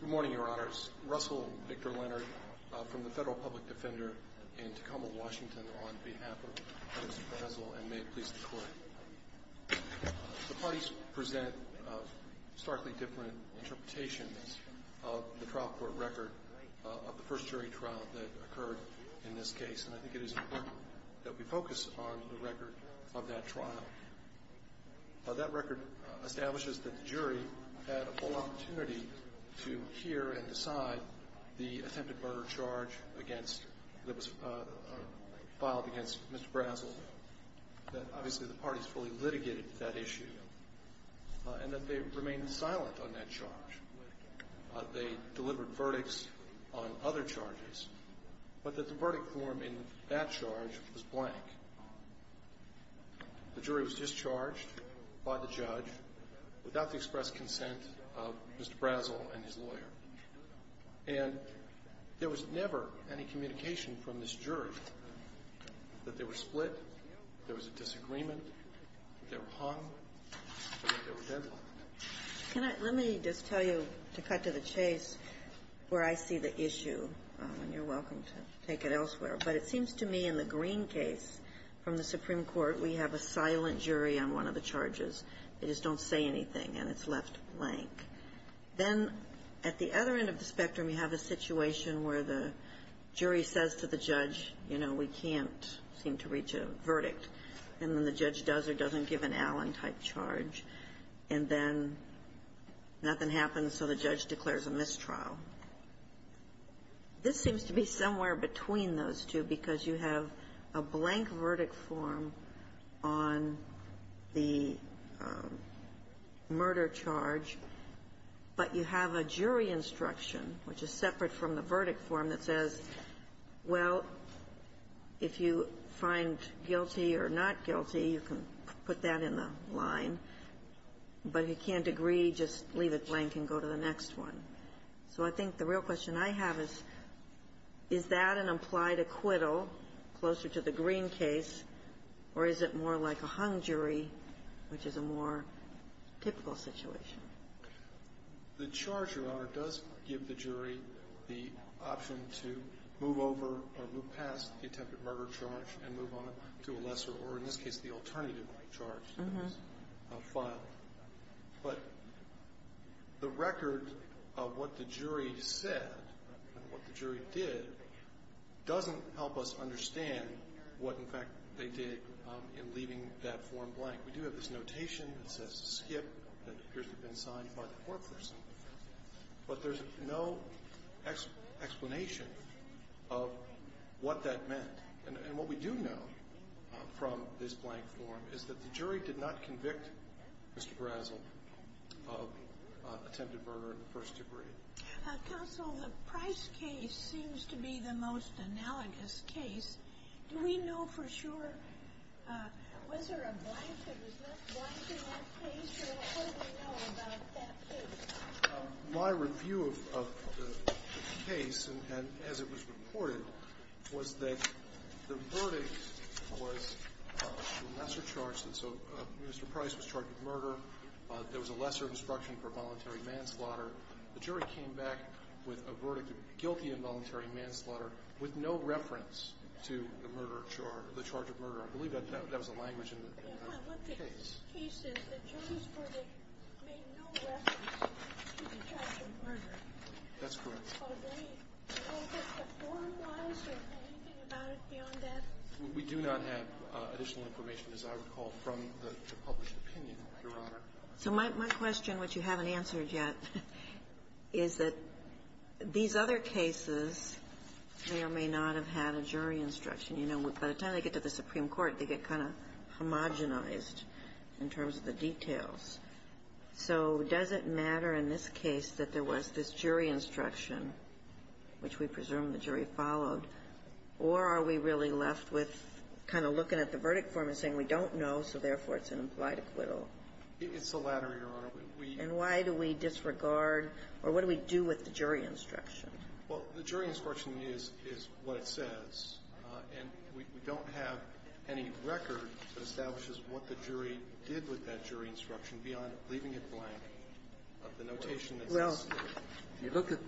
Good morning, Your Honors. Russell Victor Leonard from the Federal Public Defender in Tacoma, Washington, on behalf of Mr. Brazzel, and may it please the Court. The parties present starkly different interpretations of the trial court record of the first jury trial that occurred in this case, and I think it is important that we focus on the record of that trial. That record establishes that the jury had a full opportunity to hear and decide the attempted murder charge that was filed against Mr. Brazzel, that obviously the parties fully litigated that issue, and that they remained silent on that charge. They delivered verdicts on other charges, but that the verdict form in that charge was blank. The jury was discharged by the judge without the expressed consent of Mr. Brazzel and his lawyer. And there was never any communication from this jury that they were split, there was a disagreement, that they were hung, that there were deadlines. Let me just tell you, to cut to the chase, where I see the issue, and you're welcome to take it elsewhere, but it seems to me in the Green case from the Supreme Court, we have a silent jury on one of the charges. They just don't say anything, and it's left blank. Then at the other end of the spectrum, you have a situation where the jury says to the judge, you know, we can't seem to reach a verdict, and then the judge does or doesn't give an Allen-type charge. And then nothing happens, so the judge declares a mistrial. This seems to be somewhere between those two because you have a blank verdict form on the murder charge, but you have a jury instruction, which is separate from the verdict form, that says, well, if you find guilty or not guilty, you can put that in the line. But if you can't agree, just leave it blank and go to the next one. So I think the real question I have is, is that an implied acquittal closer to the Green case, or is it more like a hung jury, which is a more typical situation? The charge, Your Honor, does give the jury the option to move over or move past the attempted murder charge and move on to a lesser or, in this case, the alternative charge that is filed. But the record of what the jury said and what the jury did doesn't help us understand what, in fact, they did in leaving that form blank. We do have this notation that says skip that appears to have been signed by the court person, but there's no explanation of what that meant. And what we do know from this blank form is that the jury did not convict Mr. Brazel of attempted murder in the first degree. Counsel, the Price case seems to be the most analogous case. Do we know for sure? Was there a blank that was not blank in that case? What do we know about that case? My review of the case, and as it was reported, was that the verdict was a lesser charge. And so Mr. Price was charged with murder. There was a lesser instruction for voluntary manslaughter. The jury came back with a verdict of guilty of voluntary manslaughter with no reference to the murder charge or the charge of murder. I believe that was the language in the case. The case is the jury's verdict made no reference to the charge of murder. That's correct. Are they informed wise or anything about it beyond that? We do not have additional information, as I recall, from the published opinion, Your Honor. So my question, which you haven't answered yet, is that these other cases may or may not have had a jury instruction. You know, by the time they get to the Supreme Court, they get kind of homogenized in terms of the details. So does it matter in this case that there was this jury instruction, which we presume the jury followed, or are we really left with kind of looking at the verdict form and saying we don't know, so therefore it's an implied acquittal? It's the latter, Your Honor. And why do we disregard or what do we do with the jury instruction? Well, the jury instruction is what it says. And we don't have any record that establishes what the jury did with that jury instruction beyond leaving it blank of the notation that's in the statute. Well, if you look at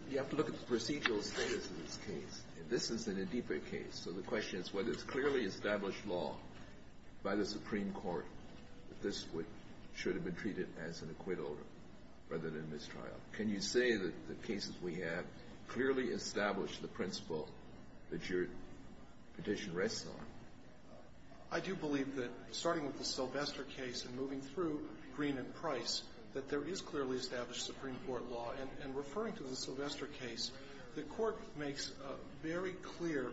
the procedural status of this case, and this is an Adipa case, so the question is whether it's clearly established law by the Supreme Court that this should have been treated as an acquittal rather than mistrial. Can you say that the cases we have clearly establish the principle that your petition rests on? I do believe that, starting with the Sylvester case and moving through Green and Price, that there is clearly established Supreme Court law. And referring to the Sylvester case, the Court makes very clear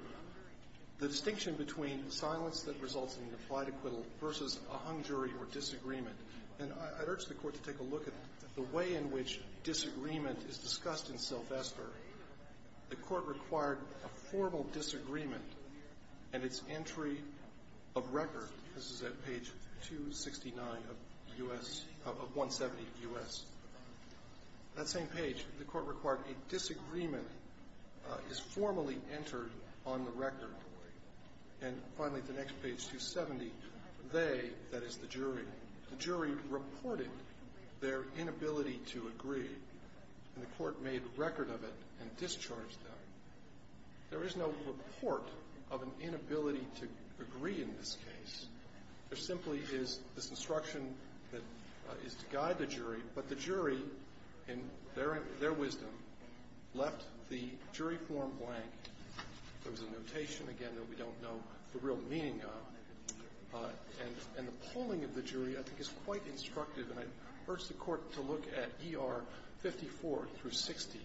the distinction between silence that results in an implied acquittal versus a hung jury or disagreement. And I'd urge the Court to take a look at the way in which disagreement is discussed in Sylvester. The Court required a formal disagreement and its entry of record. This is at page 269 of U.S. of 170 U.S. That same page, the Court required a disagreement is formally entered on the record. And finally, at the next page, 270, they, that is the jury, the jury reported their inability to agree, and the Court made record of it and discharged them. There is no report of an inability to agree in this case. There simply is this instruction that is to guide the jury. But the jury, in their wisdom, left the jury form blank. There was a notation, again, that we don't know the real meaning of. And the polling of the jury, I think, is quite instructive. And I'd urge the Court to look at ER 54 through 60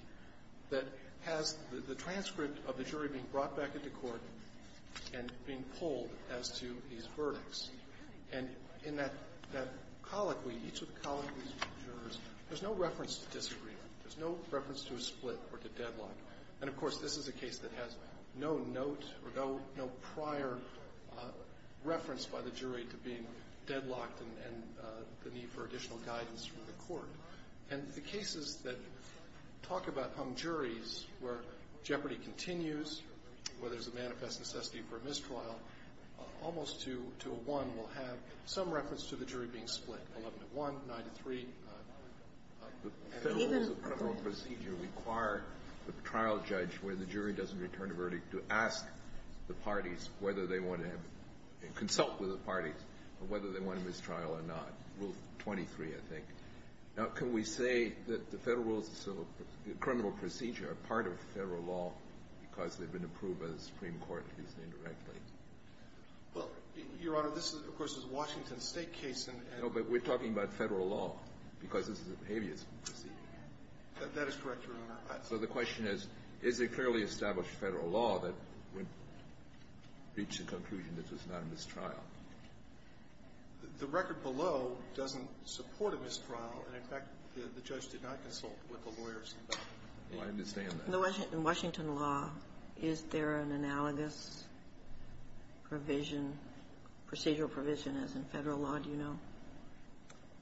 that has the transcript of the jury being brought back into court and being polled as to these verdicts. And in that colloquy, each of the colloquies of the jurors, there's no reference to disagreement. There's no reference to a split or to deadlock. And, of course, this is a case that has no note or no prior reference by the jury to being deadlocked and the need for additional guidance from the Court. And the cases that talk about hung juries where jeopardy continues, where there's a manifest necessity for a mistrial, almost to a one will have some reference to the jury being split, 11 to 1, 9 to 3. Kennedy. Kennedy. Kennedy. Kennedy. Kennedy. Kennedy. Kennedy. Kennedy. Kennedy. Kennedy. Kennedy. The record below doesn't support a mistrial. And, in fact, the judge did not consult with the lawyers about that. Well, I understand that. In Washington law, is there an analogous provision, procedural provision, as in Federal law, do you know?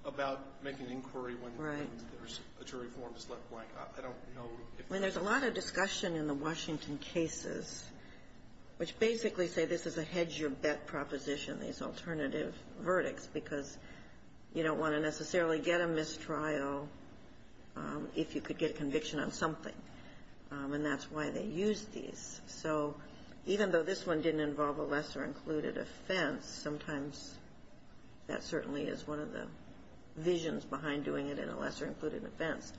About making inquiry when there's a jury form that's left blank. I don't know if that's true. Well, there's a lot of discussion in the Washington cases which basically say this is a hedge-your-bet proposition, these alternative verdicts, because you don't want to necessarily get a mistrial if you could get conviction on something. And that's why they use these. So even though this one didn't involve a lesser-included offense, sometimes that certainly is one of the visions behind doing it in a lesser-included offense.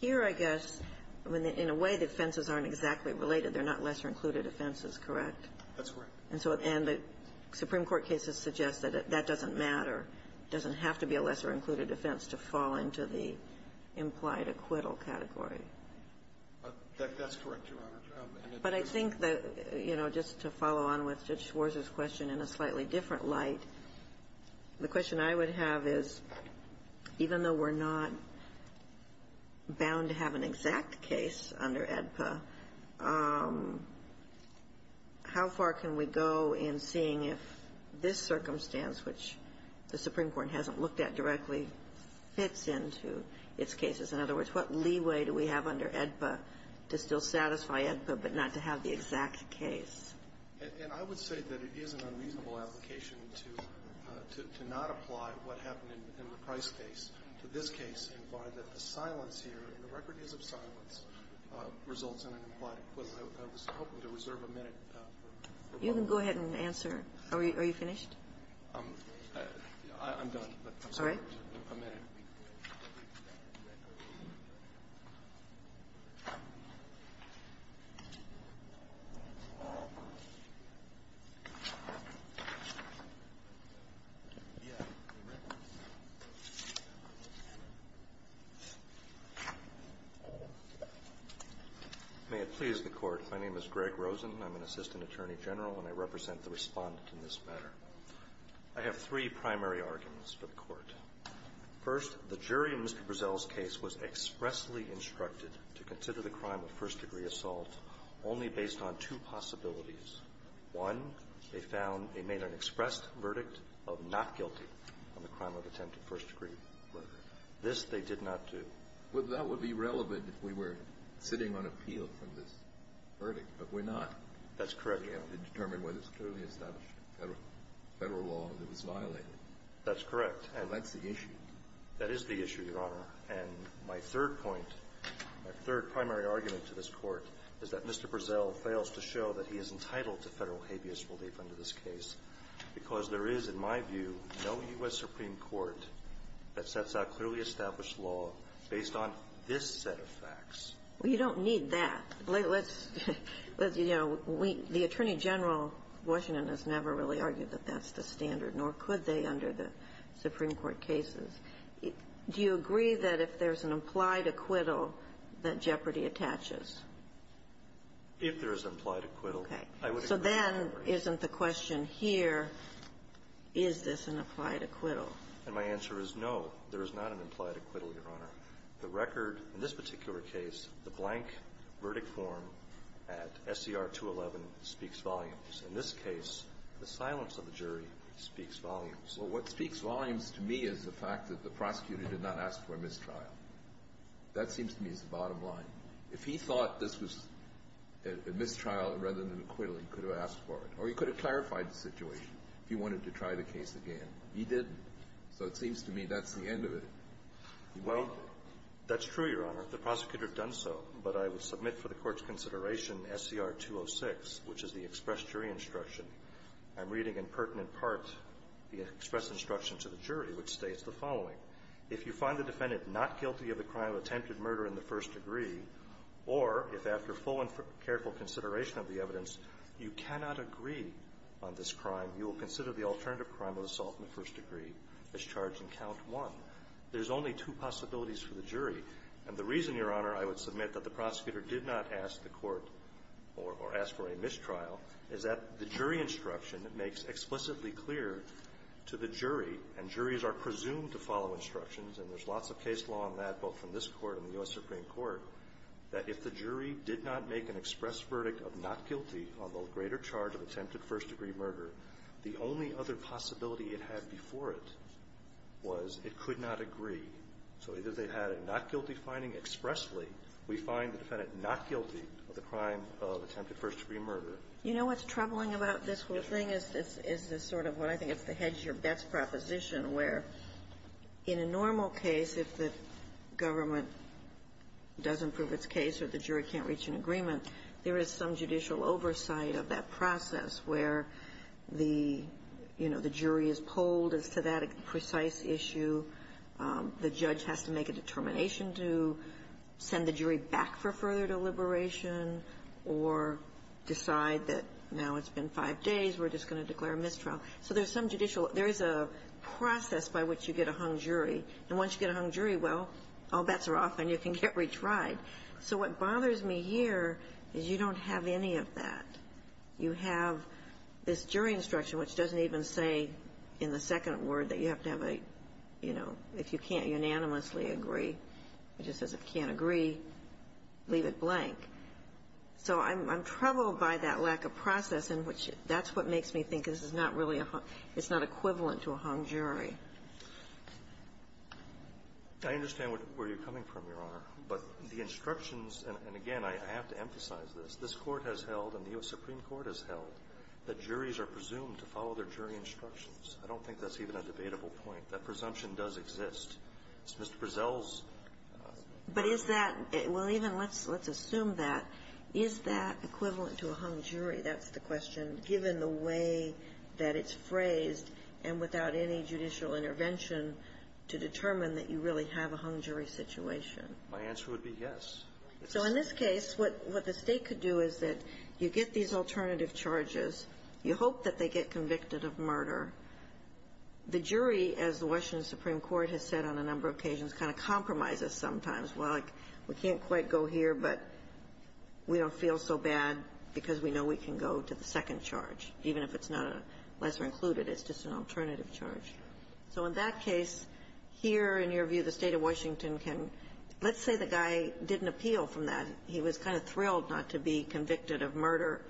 Here, I guess, in a way, the offenses aren't exactly related. They're not lesser-included offenses, correct? That's correct. And so the Supreme Court cases suggest that that doesn't matter, doesn't have to be a lesser-included offense to fall into the implied acquittal category. That's correct, Your Honor. But I think that, you know, just to follow on with Judge Schwarz's question in a slightly different light, the question I would have is, even though we're not bound to have an exact case under AEDPA, how far can we go in seeing if this circumstance, which the Supreme Court hasn't looked at directly, fits into its cases? In other words, what leeway do we have under AEDPA to still satisfy AEDPA, but not to have the exact case? And I would say that it is an unreasonable application to not apply what happened in the Price case to this case and find that the silence here, and the record is of silence, results in an implied acquittal. I was hoping to reserve a minute for one more. You can go ahead and answer. Are you finished? All right. May it please the Court. My name is Greg Rosen. I'm an assistant attorney general, and I represent the Respondent in this matter. I have three primary arguments for the Court. First, the jury in Mr. Brezel's case was expressly instructed to consider the crime of first-degree assault only based on two possibilities. One, they found they made an expressed verdict of not guilty on the crime of attempted first-degree murder. This they did not do. Well, that would be relevant if we were sitting on appeal for this verdict, but we're not. That's correct, Your Honor. And we're not going to determine whether it's clearly established Federal law that was violated. That's correct. And that's the issue. That is the issue, Your Honor. And my third point, my third primary argument to this Court is that Mr. Brezel fails to show that he is entitled to Federal habeas relief under this case because there is, in my view, no U.S. Supreme Court that sets out clearly established law based on this set of facts. Well, you don't need that. Let's, you know, we, the Attorney General of Washington has never really argued that that's the standard, nor could they under the Supreme Court cases. Do you agree that if there's an implied acquittal, that jeopardy attaches? If there is implied acquittal, I would agree with that. Okay. So then isn't the question here, is this an applied acquittal? And my answer is no, there is not an implied acquittal, Your Honor. The record, in this particular case, the blank verdict form at SCR 211 speaks volumes. In this case, the silence of the jury speaks volumes. Well, what speaks volumes to me is the fact that the prosecutor did not ask for a mistrial. That seems to me is the bottom line. If he thought this was a mistrial rather than an acquittal, he could have asked for it. Or he could have clarified the situation if he wanted to try the case again. He didn't. So it seems to me that's the end of it. Well, that's true, Your Honor. The prosecutor has done so. But I would submit for the Court's consideration SCR 206, which is the express jury instruction. I'm reading in pertinent part the express instruction to the jury, which states the following. If you find the defendant not guilty of the crime of attempted murder in the first degree, or if after full and careful consideration of the evidence, you cannot agree on this crime, you will consider the alternative crime of assault in the first degree as charged in count one. There's only two possibilities for the jury. And the reason, Your Honor, I would submit that the prosecutor did not ask the Court or ask for a mistrial is that the jury instruction makes explicitly clear to the jury and juries are presumed to follow instructions, and there's lots of case law on that, both from this Court and the U.S. Supreme Court, that if the jury did not make an express verdict of not guilty of a greater charge of attempted first degree murder, the only other possibility it had before it was it could not agree. So either they had a not-guilty finding expressly, we find the defendant not guilty of the crime of attempted first degree murder. Ginsburg. You know what's troubling about this whole thing is this sort of what I think is the hedge your bets proposition, where in a normal case, if the government doesn't prove its case or the jury can't reach an agreement, there is some judicial oversight of that process where the, you know, the jury is polled as to that precise issue, the judge has to make a determination to send the jury back for further deliberation or decide that now it's been five days, we're just going to declare a mistrial. So there's some judicial – there is a process by which you get a hung jury. And once you get a hung jury, well, all bets are off and you can get retried. So what bothers me here is you don't have any of that. You have this jury instruction, which doesn't even say in the second word that you have to have a, you know, if you can't unanimously agree, it just says if you can't agree, leave it blank. So I'm troubled by that lack of process in which that's what makes me think this is not really a hung – it's not equivalent to a hung jury. I understand where you're coming from, Your Honor, but the instructions – and again, I have to emphasize this – this Court has held and the U.S. Supreme Court has held that juries are presumed to follow their jury instructions. I don't think that's even a debatable point. That presumption does exist. It's Mr. Prezell's – But is that – well, even let's assume that. Is that equivalent to a hung jury? That's the question, given the way that it's phrased and without any judicial intervention to determine that you really have a hung jury situation. My answer would be yes. So in this case, what the State could do is that you get these alternative charges. You hope that they get convicted of murder. The jury, as the Washington Supreme Court has said on a number of occasions, kind of compromises sometimes. Well, like, we can't quite go here, but we don't feel so bad because we know we can go to the second charge, even if it's not a lesser-included. It's just an alternative charge. So in that case, here, in your view, the State of Washington can – let's say the guy didn't appeal from that. He was kind of thrilled not to be convicted of murder,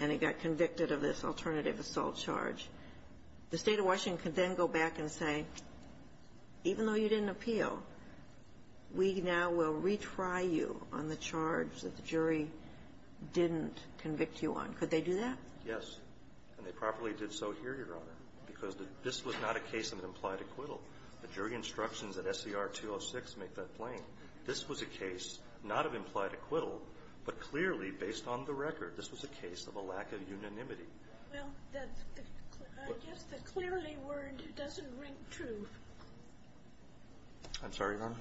and he got convicted of this alternative assault charge. The State of Washington could then go back and say, even though you didn't appeal, we now will retry you on the charge that the jury didn't convict you on. Could they do that? Yes. And they properly did so here, Your Honor, because this was not a case of implied acquittal. The jury instructions at SCR 206 make that plain. This was a case not of implied acquittal, but clearly, based on the record, this was a case of a lack of unanimity. Well, that's the – I guess the clearly word doesn't ring true. I'm sorry, Your Honor?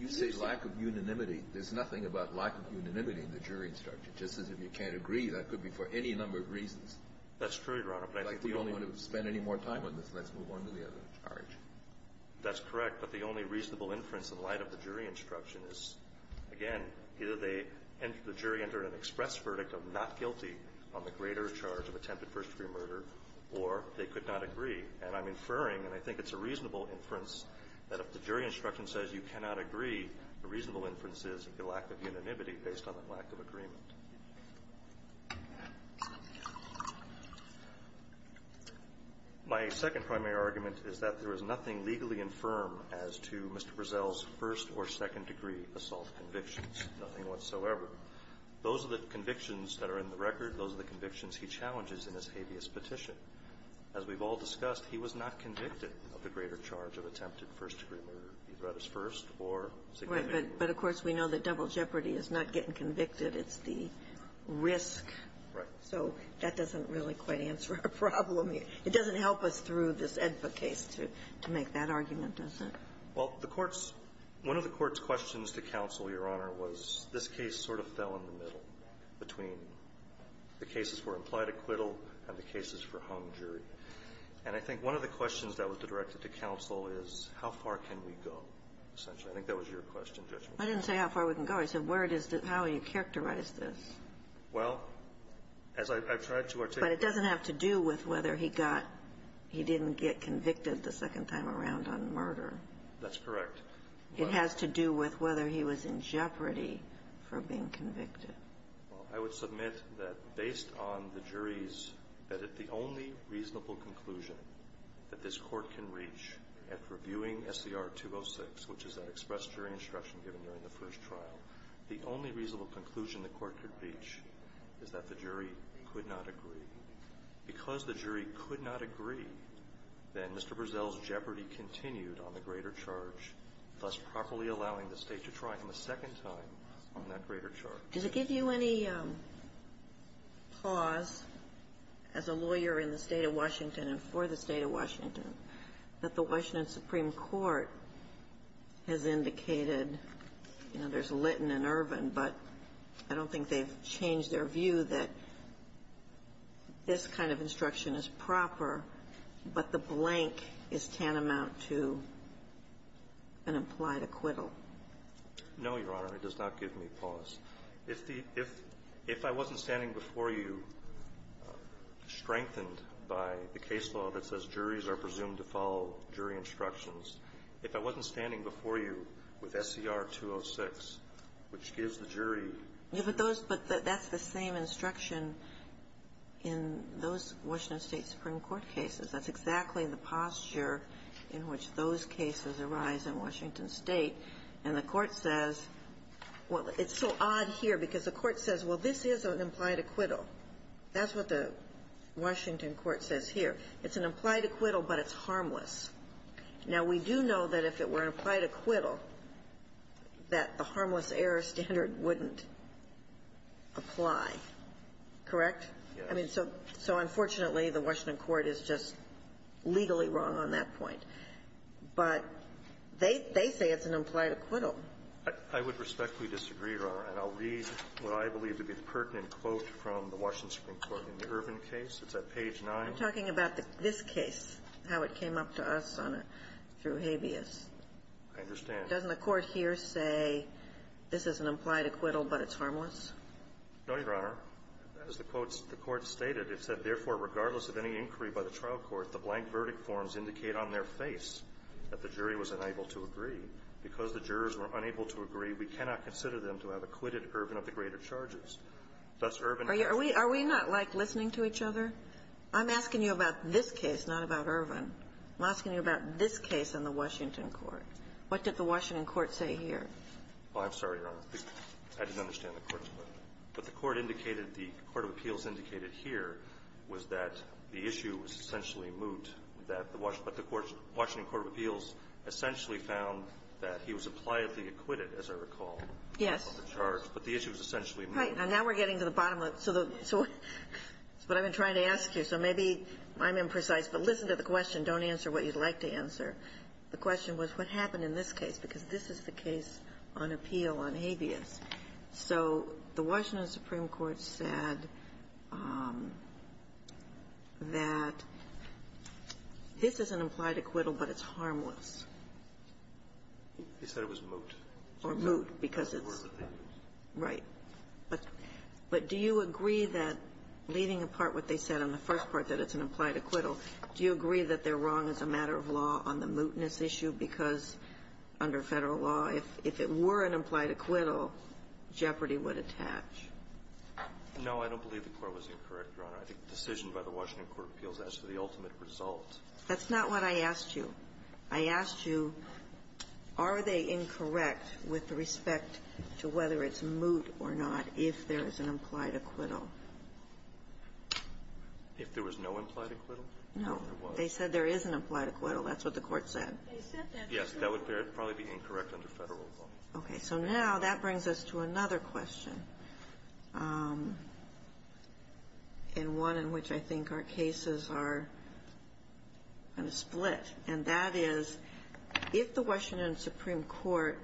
You say lack of unanimity. There's nothing about lack of unanimity in the jury instruction. Just as if you can't agree, that could be for any number of reasons. That's true, Your Honor. But I think we don't want to spend any more time on this. Let's move on to the other charge. That's correct. But the only reasonable inference in light of the jury instruction is, again, either they – the jury entered an express verdict of not guilty on the greater charge of attempted first-degree murder, or they could not agree. And I'm inferring, and I think it's a reasonable inference, that if the jury instruction says you cannot agree, the reasonable inference is the lack of unanimity based on the lack of agreement. My second primary argument is that there is nothing legally infirm as to Mr. Brazell's first- or second-degree assault convictions, nothing whatsoever. Those are the convictions that are in the record. Those are the convictions he challenges in his habeas petition. As we've all discussed, he was not convicted of the greater charge of attempted first-degree murder, either at his first or second degree. Right. But, of course, we know that double jeopardy is not getting convicted. It's the risk. Right. So that doesn't really quite answer our problem here. It doesn't help us through this AEDPA case to make that argument, does it? Well, the Court's – one of the Court's questions to counsel, Your Honor, was this case sort of fell in the middle between the cases for implied acquittal and the cases for home jury. And I think one of the questions that was directed to counsel is, how far can we go, essentially. I think that was your question, Judge. I didn't say how far we can go. I said where does the – how do you characterize this? Well, as I've tried to articulate – But it doesn't have to do with whether he got – he didn't get convicted the second time around on murder. That's correct. It has to do with whether he was in jeopardy for being convicted. Well, I would submit that based on the jury's – that the only reasonable conclusion that this Court can reach after reviewing SCR 206, which is that express jury instruction given during the first trial, the only reasonable conclusion the Court could reach is that the jury could not agree. Because the jury could not agree, then Mr. Burzell's jeopardy continued on the greater charge, thus properly allowing the State to try him a second time on that greater charge. Does it give you any pause, as a lawyer in the State of Washington and for the State of Washington, that the Washington Supreme Court has indicated – you know, there's Litton and Ervin, but I don't think they've changed their view that this kind of instruction is proper, but the blank is tantamount to an implied acquittal? No, Your Honor. It does not give me pause. If the – if I wasn't standing before you, strengthened by the case law that says juries are presumed to follow jury instructions, if I wasn't standing before you with SCR 206, which gives the jury – Yeah, but those – but that's the same instruction in those Washington State Supreme Court cases. That's exactly the posture in which those cases arise in Washington State. And the Court says – well, it's so odd here, because the Court says, well, this is an implied acquittal. That's what the Washington Court says here. It's an implied acquittal, but it's harmless. Now, we do know that if it were an implied acquittal, that the harmless error standard wouldn't apply, correct? I mean, so unfortunately, the Washington Court is just legally wrong on that point. But they say it's an implied acquittal. I would respectfully disagree, Your Honor. And I'll read what I believe to be the pertinent quote from the Washington Supreme Court in the Irvin case. It's at page 9. You're talking about this case, how it came up to us on a – through habeas. I understand. Doesn't the Court here say this is an implied acquittal, but it's harmless? No, Your Honor. As the quote – the Court stated, it said, therefore, regardless of any inquiry by the trial court, the blank verdict forms indicate on their face that the jury was unable to agree. Because the jurors were unable to agree, we cannot consider them to have acquitted Irvin of the greater charges. Thus, Irvin – Are we – are we not, like, listening to each other? I'm asking you about this case, not about Irvin. I'm asking you about this case in the Washington Court. What did the Washington Court say here? Well, I'm sorry, Your Honor. I didn't understand the Court's question. What the Court indicated – the court of appeals indicated here was that the issue was essentially moot, that the Washington – but the Washington Court of Appeals essentially found that he was impliedly acquitted, as I recall. Yes. Of the charge. But the issue was essentially moot. Right. Now, now we're getting to the bottom of it. So the – so what I've been trying to ask you, so maybe I'm imprecise. But listen to the question. Don't answer what you'd like to answer. The question was, what happened in this case? Because this is the case on appeal on habeas. So the Washington Supreme Court said that this is an implied acquittal, but it's harmless. They said it was moot. Or moot, because it's – right. But do you agree that, leaving apart what they said on the first part, that it's an implied acquittal, do you agree that they're wrong as a matter of law on the mootness issue? Because under Federal law, if it were an implied acquittal, jeopardy would attach. No, I don't believe the Court was incorrect, Your Honor. I think the decision by the Washington Court of Appeals as to the ultimate result. That's not what I asked you. I asked you, are they incorrect with respect to whether it's moot or not if there is an implied acquittal? If there was no implied acquittal? No. There was. They said there is an implied acquittal. That's what the Court said. Yes, that would probably be incorrect under Federal law. Okay. So now that brings us to another question, and one in which I think our cases are kind of split, and that is, if the Washington Supreme Court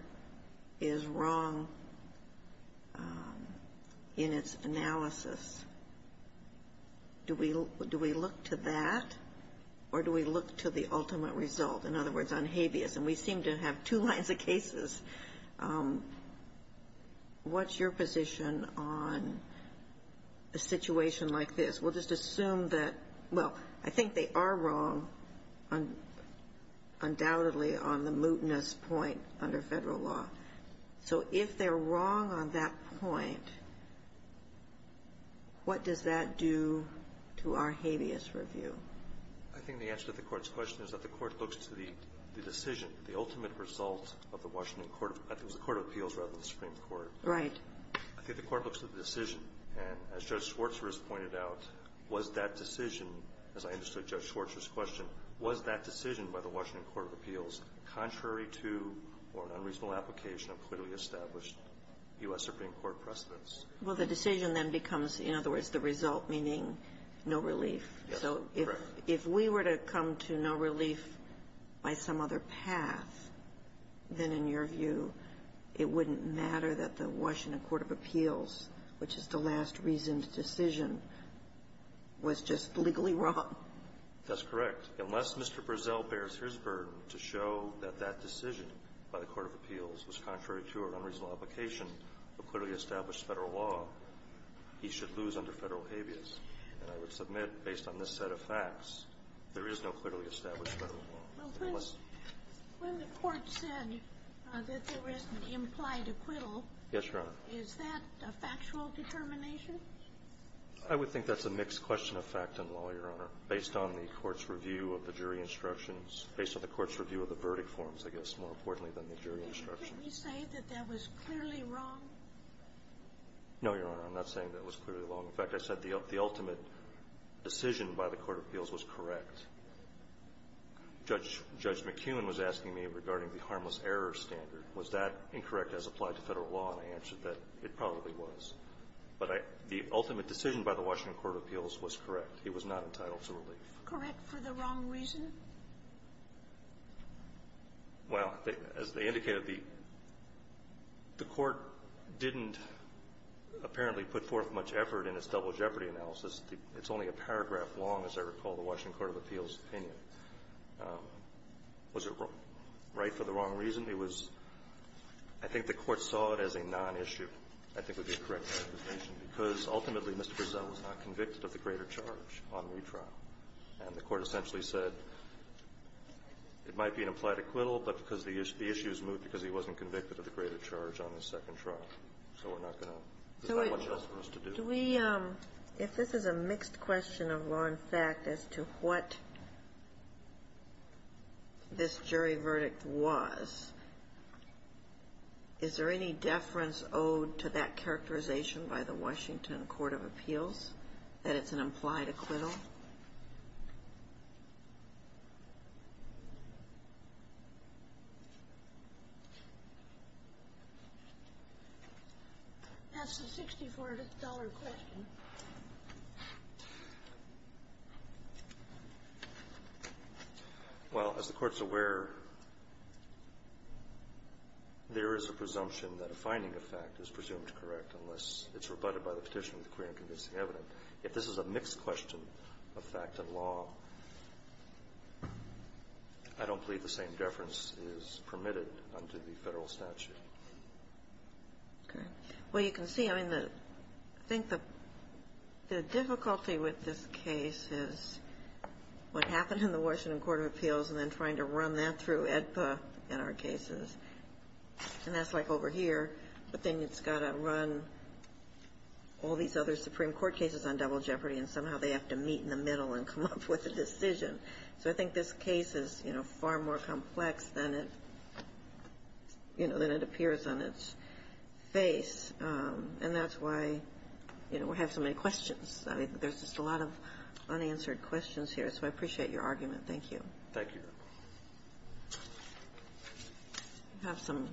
is wrong in its analysis, do we look to that, or do we look to the ultimate result? In other words, on habeas. And we seem to have two lines of cases. What's your position on a situation like this? We'll just assume that, well, I think they are wrong, undoubtedly, on the mootness point under Federal law. So if they're wrong on that point, what does that do to our habeas review? I think the answer to the Court's question is that the Court looks to the decision, the ultimate result of the Washington Court of – I think it was the Court of Appeals rather than the Supreme Court. Right. I think the Court looks to the decision. And as Judge Schwartz has pointed out, was that decision, as I understood Judge Schwartz's question, was that decision by the Washington Court of Appeals contrary to or an unreasonable application of clearly established U.S. Supreme Court precedents? Well, the decision then becomes, in other words, the result, meaning no relief. So if we were to come to no relief by some other path, then, in your view, it wouldn't matter that the Washington Court of Appeals, which is the last reasoned decision, was just legally wrong? That's correct. Unless Mr. Brezel bears his burden to show that that decision by the Court of Appeals was contrary to or unreasonable application of clearly established Federal law, he should lose under Federal habeas. And I would submit, based on this set of facts, there is no clearly established Federal law. Well, when the Court said that there is an implied acquittal, is that a factual determination? I would think that's a mixed question of fact and law, Your Honor, based on the Court's review of the jury instructions – based on the Court's review of the verdict forms, I guess, more importantly than the jury instructions. Did you say that that was clearly wrong? No, Your Honor. I'm not saying that was clearly wrong. In fact, I said the ultimate decision by the Court of Appeals was correct. Judge McKeon was asking me regarding the harmless error standard. Was that incorrect as applied to Federal law? And I answered that it probably was. But the ultimate decision by the Washington Court of Appeals was correct. It was not entitled to relief. Correct for the wrong reason? Well, as they indicated, the Court didn't apparently put forth much effort in its double jeopardy analysis. It's only a paragraph long, as I recall, the Washington Court of Appeals opinion. Was it right for the wrong reason? It was – I think the Court saw it as a nonissue. I think would be a correct interpretation, because ultimately Mr. Purcell was not convicted of the greater charge on retrial. And the Court essentially said it might be an implied acquittal, but because the issue was moved because he wasn't convicted of the greater charge on his second trial. So we're not going to – there's not much else for us to do. Could we – if this is a mixed question of law and fact as to what this jury verdict was, is there any deference owed to that characterization by the Washington Court of Appeals, that it's an implied acquittal? That's a $64 question. Well, as the Court's aware, there is a presumption that a finding of fact is presumed correct unless it's rebutted by the petitioner with clear and convincing evidence. But if this is a mixed question of fact and law, I don't believe the same deference is permitted under the Federal statute. Okay. Well, you can see, I mean, the – I think the difficulty with this case is what happened in the Washington Court of Appeals and then trying to run that through AEDPA in our cases. And that's like over here. But then it's got to run all these other Supreme Court cases on double jeopardy, and somehow they have to meet in the middle and come up with a decision. So I think this case is, you know, far more complex than it – you know, than it appears on its face. And that's why, you know, we have so many questions. I mean, there's just a lot of unanswered questions here. So I appreciate your argument. Thank you. Have some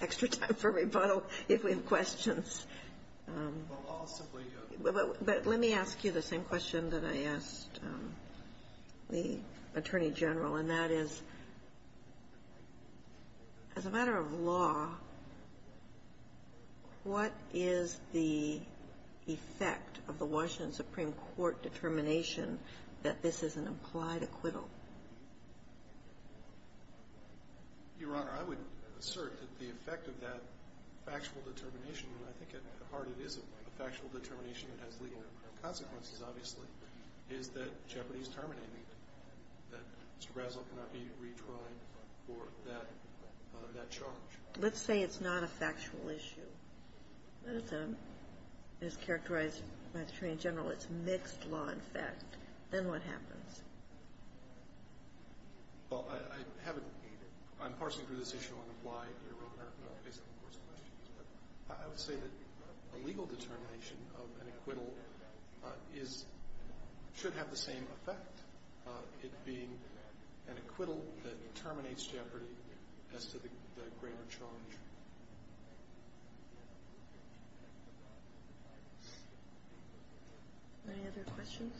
extra time for rebuttal, if we have questions. Well, I'll simply go to the next one. But let me ask you the same question that I asked the Attorney General, and that is, as a matter of law, what is the effect of the Washington Supreme Court determination that this is an implied acquittal? Your Honor, I would assert that the effect of that factual determination – and I think at heart it is a factual determination that has legal consequences, obviously – is that jeopardy is terminated, that Mr. Razzle cannot be retried for that charge. Let's say it's not a factual issue. Let's say it's characterized by the Attorney General as mixed law and fact. Then what happens? Well, I haven't – I'm parsing through this issue on why, Your Honor, based on the course of questions. But I would say that a legal determination of an acquittal should have the same effect, it being an acquittal that terminates jeopardy as to the greater charge. Any other questions?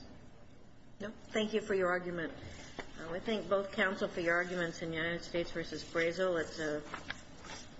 No? Thank you for your argument. We thank both counsel for your arguments in United States v. Brazile.